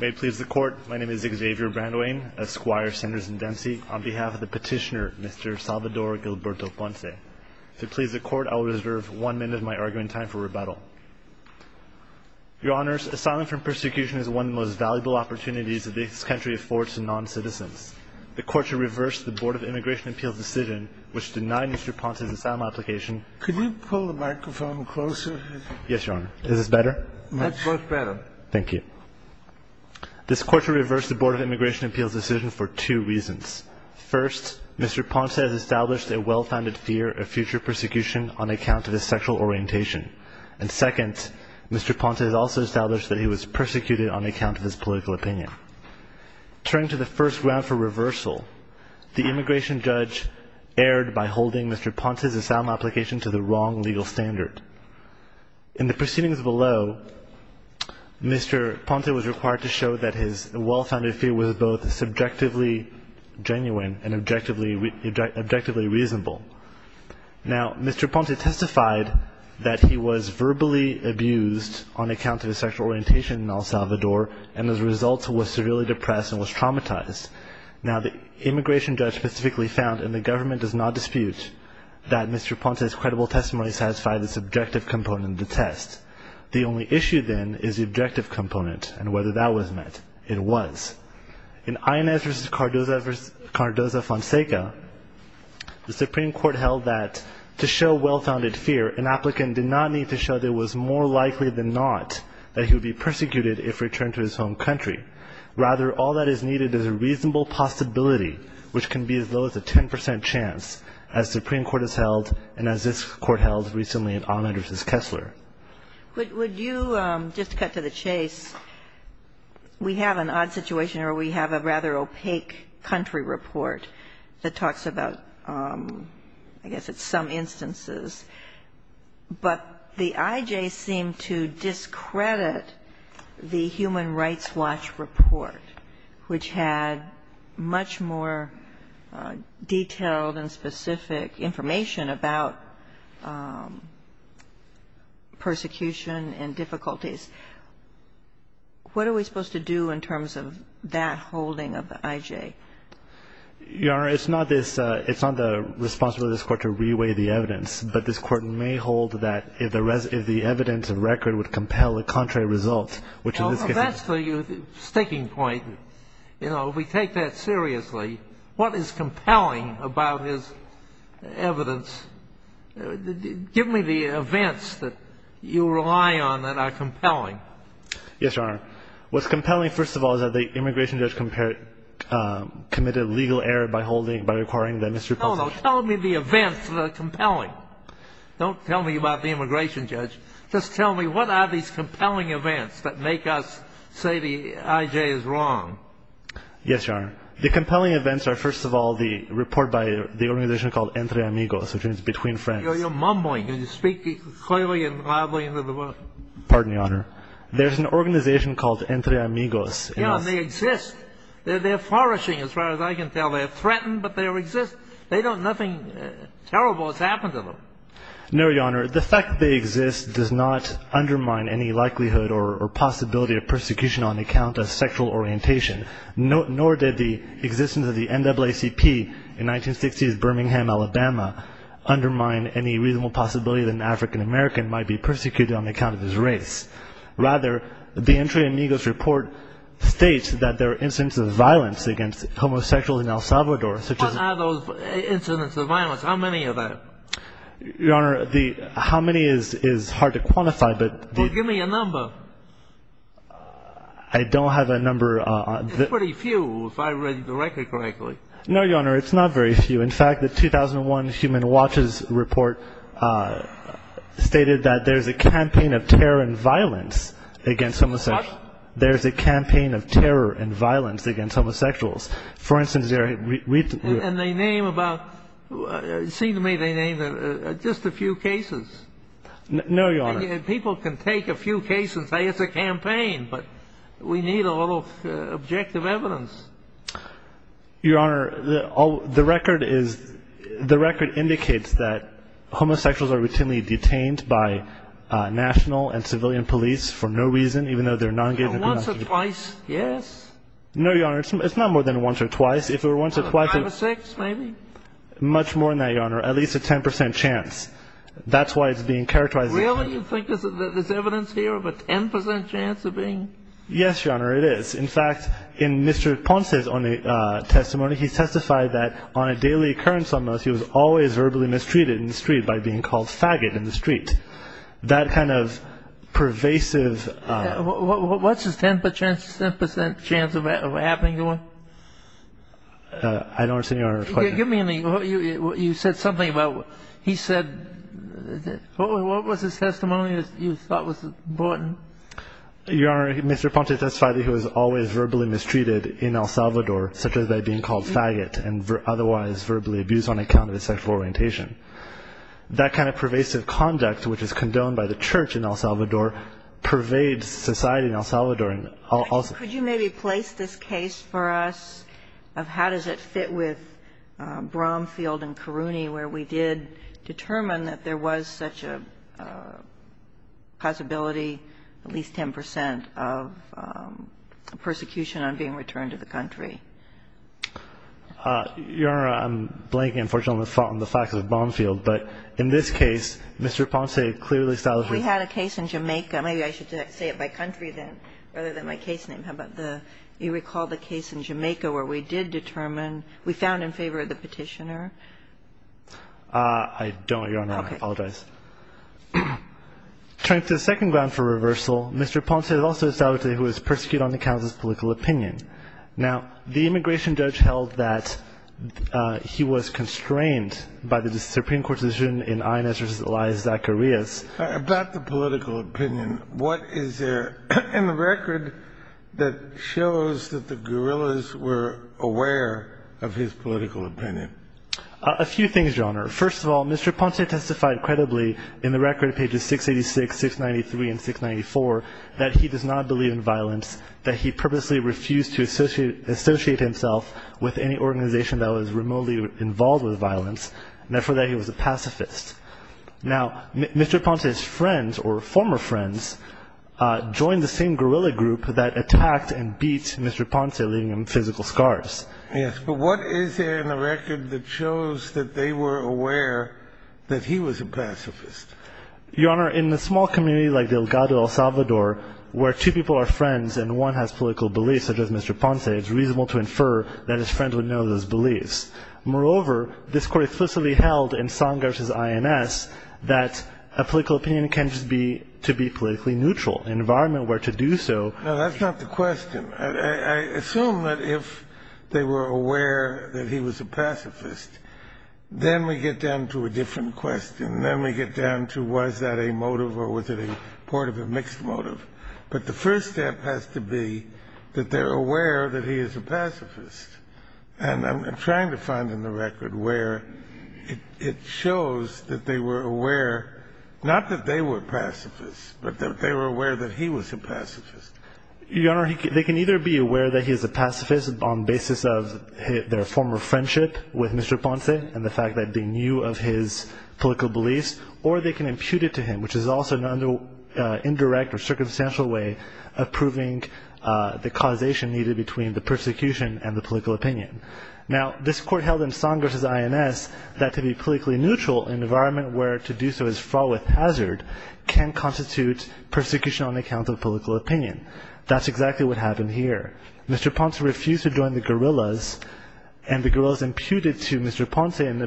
May it please the Court, my name is Xavier Brandwain of Squire Centers in Dempsey, on behalf of the petitioner, Mr. Salvador Gilberto Ponce. If it pleases the Court, I will reserve one minute of my argument time for rebuttal. Your Honors, asylum from persecution is one of the most valuable opportunities that this country affords to non-citizens. The Court should reverse the Board of Immigration Appeals decision, which denied Mr. Ponce's asylum application. Could you pull the microphone closer? Yes, Your Honor. Is this better? Much better. Thank you. This Court should reverse the Board of Immigration Appeals decision for two reasons. First, Mr. Ponce has established a well-founded fear of future persecution on account of his sexual orientation. And second, Mr. Ponce has also established that he was persecuted on account of his political opinion. Turning to the first round for reversal, the immigration judge erred by holding Mr. Ponce's asylum application to the wrong legal standard. In the proceedings below, Mr. Ponce was required to show that his well-founded fear was both subjectively genuine and objectively reasonable. Now, Mr. Ponce testified that he was verbally abused on account of his sexual orientation in El Salvador and, as a result, was severely depressed and was traumatized. Now, the immigration judge specifically found, and the government does not dispute, that Mr. Ponce's credible testimony satisfied the subjective component of the test. The only issue, then, is the objective component and whether that was met. It was. In Inez v. Cardoza-Fonseca, the Supreme Court held that, to show well-founded fear, an applicant did not need to show that it was more likely than not that he would be persecuted if returned to his home country. Rather, all that is needed is a reasonable possibility, which can be as low as a 10 percent chance, as the Supreme Court has held and as this Court held recently in Ahmed v. Kessler. Would you just cut to the chase? We have an odd situation where we have a rather opaque country report that talks about, I guess it's some instances, but the I.J. seemed to discredit the Human Rights Watch report, which had much more detailed and specific information about persecution and difficulties. What are we supposed to do in terms of that holding of the I.J.? Your Honor, it's not the responsibility of this Court to reweigh the evidence, but this Court may hold that if the evidence and record would compel the contrary results, which in this case is true. Well, that's the sticking point. You know, if we take that seriously, what is compelling about this evidence? Give me the events that you rely on that are compelling. Yes, Your Honor. What's compelling, first of all, is that the immigration judge committed a legal error by holding, by requiring the misrepresentation. No, no. Tell me the events that are compelling. Don't tell me about the immigration judge. Just tell me what are these compelling events that make us say the I.J. is wrong. Yes, Your Honor. The compelling events are, first of all, the report by the organization called Entre Amigos, which means Between Friends. You're mumbling. Can you speak clearly and loudly into the mic? Pardon, Your Honor. There's an organization called Entre Amigos. Yeah, and they exist. They're flourishing, as far as I can tell. They're threatened, but they exist. They don't do nothing terrible that's happened to them. No, Your Honor. The fact that they exist does not undermine any likelihood or possibility of persecution on account of sexual orientation, nor did the existence of the NAACP in 1960s Birmingham, Alabama, undermine any reasonable possibility that an African American might be persecuted on account of his race. Rather, the Entre Amigos report states that there are incidents of violence What are those incidents of violence? How many of them? Your Honor, the how many is hard to quantify, but the Well, give me a number. I don't have a number. It's pretty few, if I read the record correctly. No, Your Honor. It's not very few. In fact, the 2001 Human Watches report stated that there's a campaign of terror and violence against homosexuals. What? There's a campaign of terror and violence against homosexuals. And they name about, it seemed to me they named just a few cases. No, Your Honor. And people can take a few cases and say it's a campaign, but we need a little objective evidence. Your Honor, the record indicates that homosexuals are routinely detained by national and civilian police for no reason, even though they're non-engagement. Once or twice, yes. No, Your Honor. It's not more than once or twice. If it were once or twice. Five or six, maybe? Much more than that, Your Honor. At least a 10% chance. That's why it's being characterized as a 10% chance. Really? You think there's evidence here of a 10% chance of being? Yes, Your Honor, it is. In fact, in Mr. Ponce's testimony, he testified that on a daily occurrence almost, he was always verbally mistreated in the street by being called faggot in the street. That kind of pervasive What's his 10% chance of happening to him? I don't understand Your Honor's question. Give me an example. You said something about he said, what was his testimony that you thought was important? Your Honor, Mr. Ponce testified that he was always verbally mistreated in El Salvador, such as by being called faggot and otherwise verbally abused on account of his sexual orientation. That kind of pervasive conduct, which is condoned by the church in El Salvador, pervades society in El Salvador. Could you maybe place this case for us of how does it fit with Bromfield and Caruni, where we did determine that there was such a possibility, at least 10%, of persecution on being returned to the country? Your Honor, I'm blanking, unfortunately, on the facts of Bromfield. But in this case, Mr. Ponce clearly established that We had a case in Jamaica. Maybe I should say it by country rather than my case name. How about the you recall the case in Jamaica where we did determine, we found in favor of the petitioner? I don't, Your Honor. I apologize. Okay. Turning to the second ground for reversal, Mr. Ponce also established that he was persecuted on account of his political opinion. Now, the immigration judge held that he was constrained by the Supreme Court decision in Inez v. Elias-Zacharias. About the political opinion, what is there in the record that shows that the guerrillas were aware of his political opinion? A few things, Your Honor. First of all, Mr. Ponce testified credibly in the record, pages 686, 693, and 694, that he does not believe in violence, that he purposely refused to associate himself with any organization that was remotely involved with violence, and, therefore, that he was a pacifist. Now, Mr. Ponce's friends or former friends joined the same guerrilla group that attacked and beat Mr. Ponce, leaving him physical scars. Yes, but what is there in the record that shows that they were aware that he was a pacifist? Your Honor, in a small community like Delgado, El Salvador, where two people are friends and one has political beliefs, such as Mr. Ponce, it's reasonable to infer that his friends would know those beliefs. Moreover, this Court explicitly held in Sanger v. INS that a political opinion can't just be to be politically neutral. An environment where to do so ---- No, that's not the question. I assume that if they were aware that he was a pacifist, then we get down to a different question. Then we get down to was that a motive or was it a part of a mixed motive. But the first step has to be that they're aware that he is a pacifist. And I'm trying to find in the record where it shows that they were aware, not that they were pacifists, but that they were aware that he was a pacifist. Your Honor, they can either be aware that he is a pacifist on the basis of their former friendship with Mr. Ponce and the fact that they knew of his political beliefs, or they can impute it to him, which is also an indirect or circumstantial way of proving the causation needed between the persecution and the political opinion. Now, this Court held in Sanger v. INS that to be politically neutral, an environment where to do so is fraught with hazard, can constitute persecution on account of political opinion. That's exactly what happened here. Mr. Ponce refused to join the guerrillas and the guerrillas imputed to Mr. Ponce an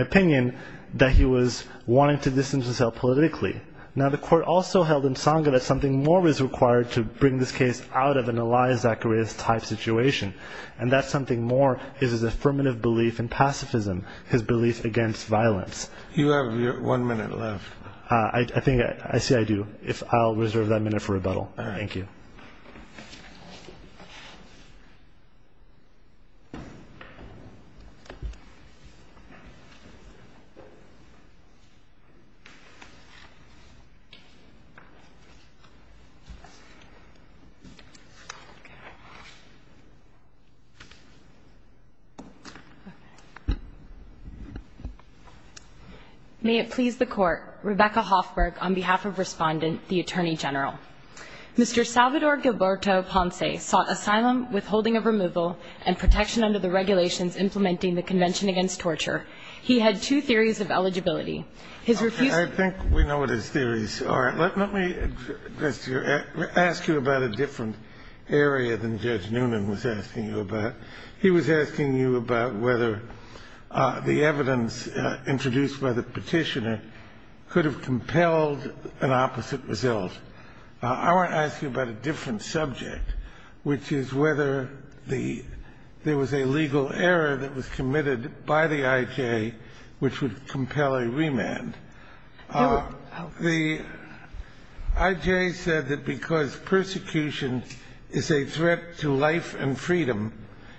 opinion that he was wanting to distance himself politically. Now, the Court also held in Sanger that something more was required to bring this case out of an Elias Zacharias type situation, and that something more is his affirmative belief in pacifism, his belief against violence. You have one minute left. I see I do. I'll reserve that minute for rebuttal. Thank you. May it please the Court, Mr. Salvador Gilberto Ponce sought asylum, withholding of removal, and protection under the regulations implementing the Convention Against Torture. He had two theories of eligibility. I think we know what his theories are. Let me ask you about a different area than Judge Noonan was asking you about. He was asking you about whether the evidence introduced by the Petitioner could have compelled an opposite result. I want to ask you about a different subject, which is whether there was a legal error that was committed by the I.J. which would compel a remand. The I.J. said that because persecution is a threat to life and freedom,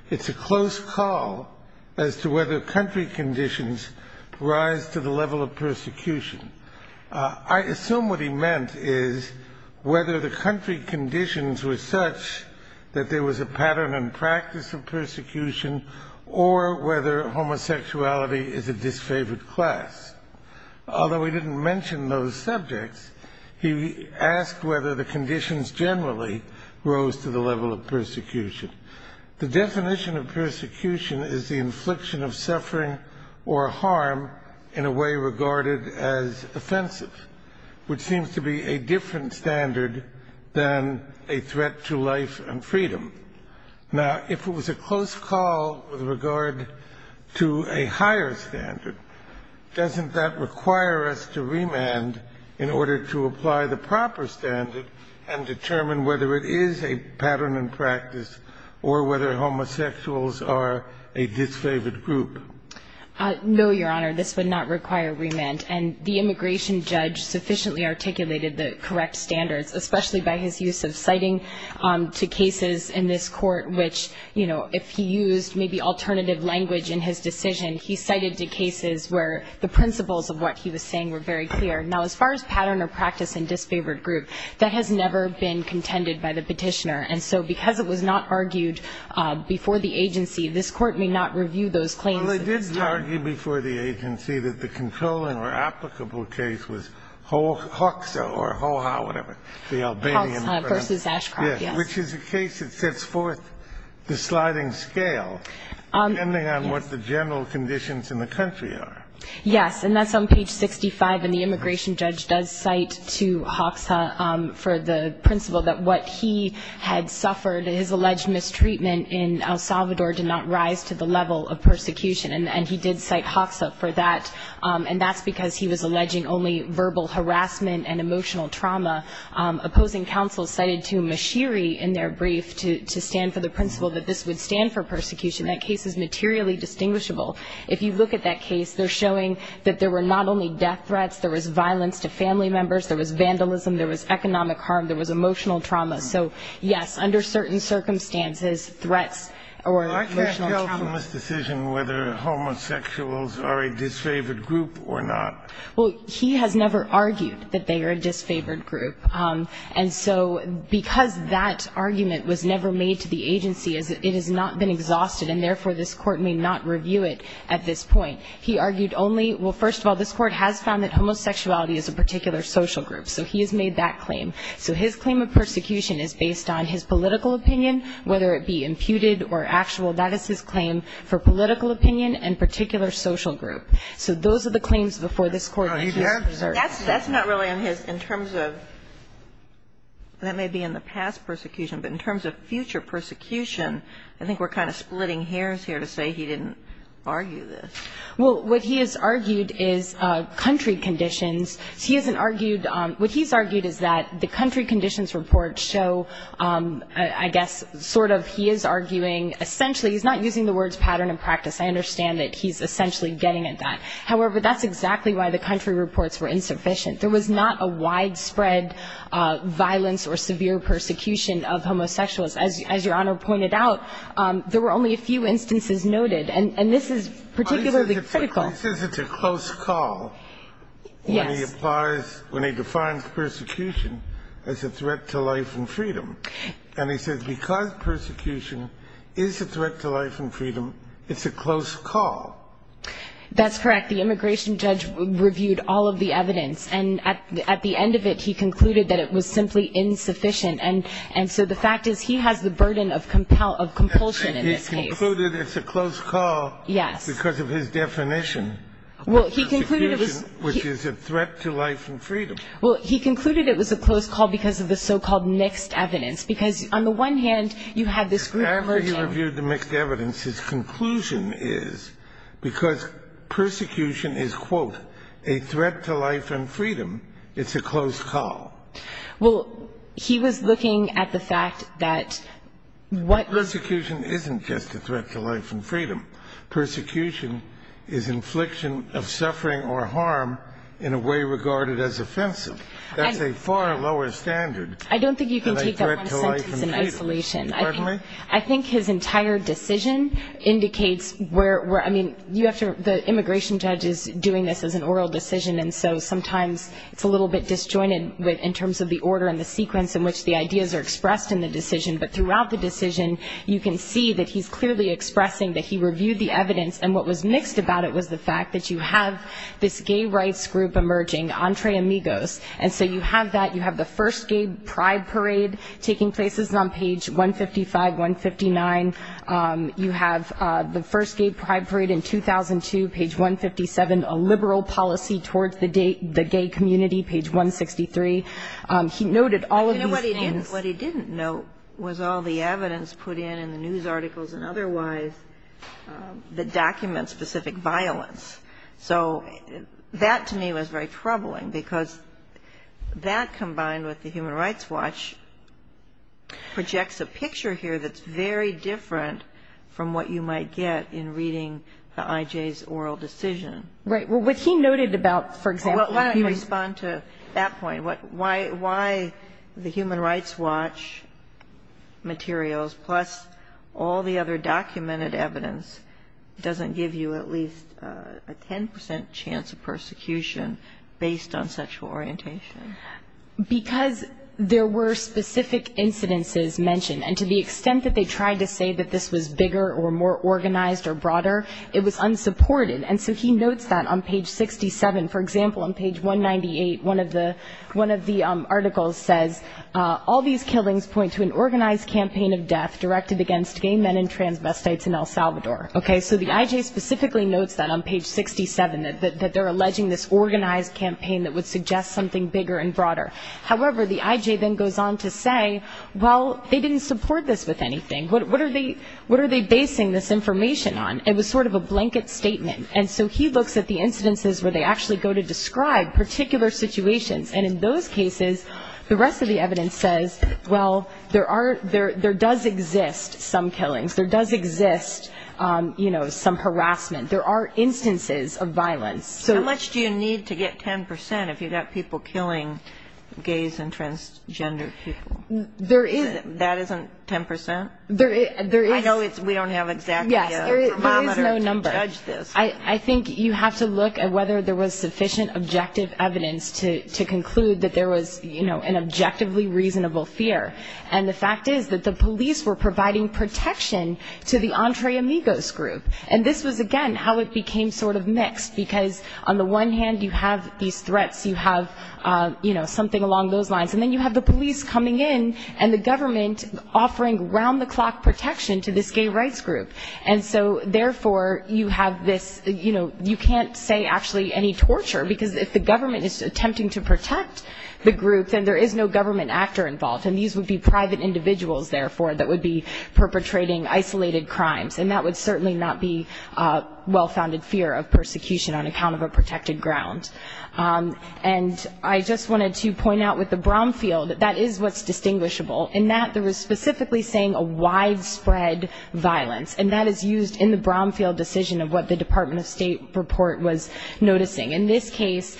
it's a close call as to whether country conditions rise to the level of persecution. I assume what he meant is whether the country conditions were such that there was a pattern and practice of persecution or whether homosexuality is a disfavored class. Although he didn't mention those subjects, he asked whether the conditions generally rose to the level of persecution. The definition of persecution is the infliction of suffering or harm in a way regarded as offensive, which seems to be a different standard than a threat to life and freedom. Now, if it was a close call with regard to a higher standard, doesn't that require us to remand in order to apply the proper standard and determine whether it is a pattern and practice or whether homosexuals are a disfavored group? No, Your Honor. This would not require remand. And the immigration judge sufficiently articulated the correct standards, especially by his use of citing to cases in this court which, you know, if he used maybe alternative language in his decision, he cited the cases where the principles of what he was saying were very clear. Now, as far as pattern or practice and disfavored group, that has never been contended by the petitioner. And so because it was not argued before the agency, this Court may not review those claims at this time. Well, it did argue before the agency that the controlling or applicable case was Hoxha or Hoha, whatever, the Albanian. Hoxha v. Ashcroft, yes. Which is a case that sets forth the sliding scale, depending on what the general conditions in the country are. Yes, and that's on page 65. And the immigration judge does cite to Hoxha for the principle that what he had suffered, his alleged mistreatment in El Salvador did not rise to the level of persecution. And he did cite Hoxha for that. And that's because he was alleging only verbal harassment and emotional trauma. Opposing counsel cited to Mashiri in their brief to stand for the principle that this would stand for persecution. That case is materially distinguishable. If you look at that case, they're showing that there were not only death threats, there was violence to family members, there was vandalism, there was economic harm, there was emotional trauma. So, yes, under certain circumstances, threats or emotional trauma. I can't tell from this decision whether homosexuals are a disfavored group or not. Well, he has never argued that they are a disfavored group. And so because that argument was never made to the agency, it has not been exhausted, and therefore this Court may not review it at this point. He argued only, well, first of all, this Court has found that homosexuality is a particular social group. So he has made that claim. So his claim of persecution is based on his political opinion, whether it be imputed or actual. That is his claim for political opinion and particular social group. So those are the claims before this Court. That's not really on his, in terms of, that may be in the past persecution, but in terms of future persecution, I think we're kind of splitting hairs here to say he didn't argue this. Well, what he has argued is country conditions. He hasn't argued, what he's argued is that the country conditions report show, I guess, sort of he is arguing essentially, he's not using the words pattern and practice. I understand that he's essentially getting at that. However, that's exactly why the country reports were insufficient. There was not a widespread violence or severe persecution of homosexuals. As Your Honor pointed out, there were only a few instances noted. And this is particularly critical. He says it's a close call when he applies, when he defines persecution as a threat to life and freedom. And he says because persecution is a threat to life and freedom, it's a close call. That's correct. The immigration judge reviewed all of the evidence. And at the end of it, he concluded that it was simply insufficient. And so the fact is he has the burden of compulsion in this case. He concluded it's a close call because of his definition. Well, he concluded it was. Which is a threat to life and freedom. Well, he concluded it was a close call because of the so-called mixed evidence. Because on the one hand, you have this group. After he reviewed the mixed evidence, his conclusion is because persecution is, quote, a threat to life and freedom, it's a close call. Well, he was looking at the fact that what. Persecution isn't just a threat to life and freedom. Persecution is infliction of suffering or harm in a way regarded as offensive. That's a far lower standard than a threat to life and freedom. I don't think you can take that one sentence in isolation. Pardon me? I think his entire decision indicates where, I mean, you have to, the immigration judge is doing this as an oral decision. And so sometimes it's a little bit disjointed in terms of the order and the sequence in which the ideas are expressed in the decision. But throughout the decision, you can see that he's clearly expressing that he reviewed the evidence. And what was mixed about it was the fact that you have this gay rights group emerging, Entre Amigos. And so you have that. You have the first gay pride parade taking place on page 155, 159. You have the first gay pride parade in 2002, page 157. A liberal policy towards the gay community, page 163. He noted all of these things. What he didn't note was all the evidence put in in the news articles and otherwise that documents specific violence. So that, to me, was very troubling because that, combined with the Human Rights Watch, projects a picture here that's very different from what you might get in reading the I.J.'s oral decision. Right. Well, what he noted about, for example, he responded to that point. Why the Human Rights Watch materials, plus all the other documented evidence, doesn't give you at least a 10 percent chance of persecution based on sexual orientation? Because there were specific incidences mentioned. And to the extent that they tried to say that this was bigger or more organized or broader, it was unsupported. And so he notes that on page 67. For example, on page 198, one of the articles says, all these killings point to an organized campaign of death directed against gay men and transvestites in El Salvador. So the I.J. specifically notes that on page 67, that they're alleging this organized campaign that would suggest something bigger and broader. However, the I.J. then goes on to say, well, they didn't support this with anything. What are they basing this information on? It was sort of a blanket statement. And so he looks at the incidences where they actually go to describe particular situations. And in those cases, the rest of the evidence says, well, there does exist some killings. There does exist, you know, some harassment. There are instances of violence. How much do you need to get 10 percent if you've got people killing gays and transgender people? There is. That isn't 10 percent? There is. I know we don't have exactly a thermometer to judge this. Yes, there is no number. I think you have to look at whether there was sufficient objective evidence to conclude that there was, you know, an objectively reasonable fear. And the fact is that the police were providing protection to the Entre Amigos group. And this was, again, how it became sort of mixed. Because on the one hand, you have these threats. You have, you know, something along those lines. And then you have the police coming in and the government offering round-the-clock protection to this gay rights group. And so, therefore, you have this, you know, you can't say actually any torture, because if the government is attempting to protect the group, then there is no government actor involved. And these would be private individuals, therefore, that would be perpetrating isolated crimes. And that would certainly not be well-founded fear of persecution on account of a protected ground. And I just wanted to point out with the Bromfield, that is what's distinguishable, in that there was specifically saying a widespread violence. And that is used in the Bromfield decision of what the Department of State report was noticing. In this case,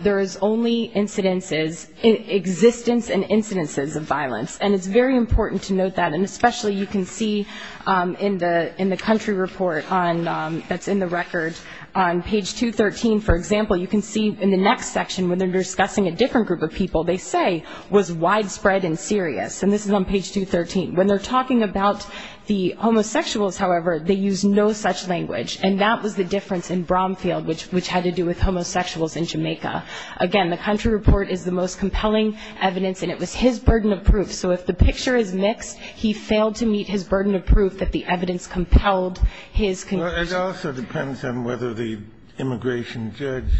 there is only incidences, existence and incidences of violence. And it's very important to note that. And especially you can see in the country report that's in the record, on page 213, for example, you can see in the next section when they're discussing a different group of people, they say was widespread and serious. And this is on page 213. When they're talking about the homosexuals, however, they use no such language. And that was the difference in Bromfield, which had to do with homosexuals in Jamaica. Again, the country report is the most compelling evidence, and it was his burden of proof. So if the picture is mixed, he failed to meet his burden of proof that the evidence compelled his conviction. It also depends on whether the immigration judge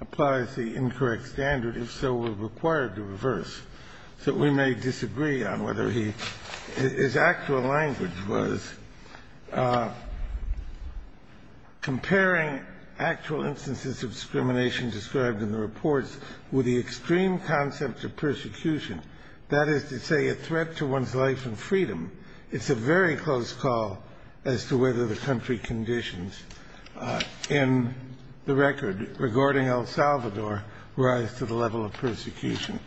applies the incorrect standard. If so, we're required to reverse. So we may disagree on whether he his actual language was comparing actual instances of discrimination described in the reports with the extreme concept of persecution, that is to say a threat to one's life and freedom. It's a very close call as to whether the country conditions in the record regarding El Salvador rise to the level of persecution.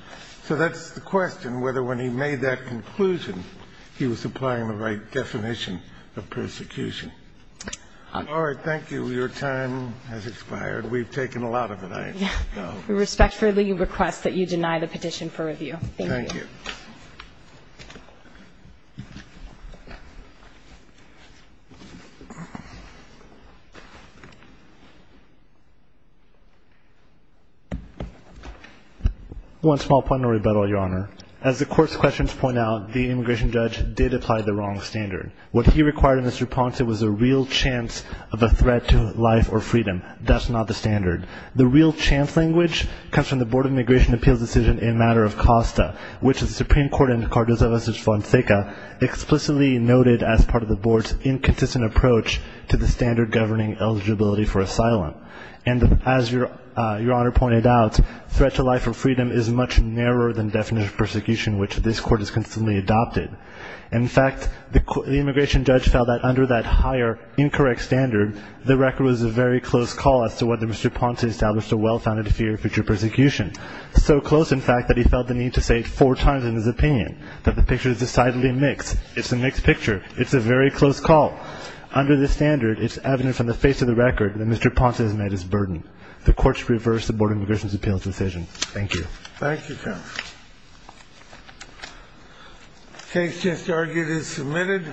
So that's the question, whether when he made that conclusion, he was applying the right definition of persecution. All right. Thank you. Your time has expired. We've taken a lot of it. I know. Thank you. Thank you. Thank you. One small point in rebuttal, Your Honor. As the court's questions point out, the immigration judge did apply the wrong standard. What he required of Mr. Ponce was a real chance of a threat to life or freedom. That's not the standard. The real chance language comes from the Board of Immigration Appeals Decision in Matter of Costa, which the Supreme Court in Cardozo versus Fonseca explicitly noted as part of the board's inconsistent approach to the standard governing eligibility for asylum. And as Your Honor pointed out, threat to life or freedom is much narrower than definition of persecution, which this court has consistently adopted. In fact, the immigration judge felt that under that higher incorrect standard, the record was a very close call as to whether Mr. Ponce established a well-founded fear of future persecution, so close, in fact, that he felt the need to say it four times in his opinion, that the picture is decidedly mixed. It's a mixed picture. It's a very close call. Under the standard, it's evident from the face of the record that Mr. Ponce has met his burden. The court should reverse the Board of Immigration Appeals Decision. Thank you. Thank you, counsel. The case just argued is submitted.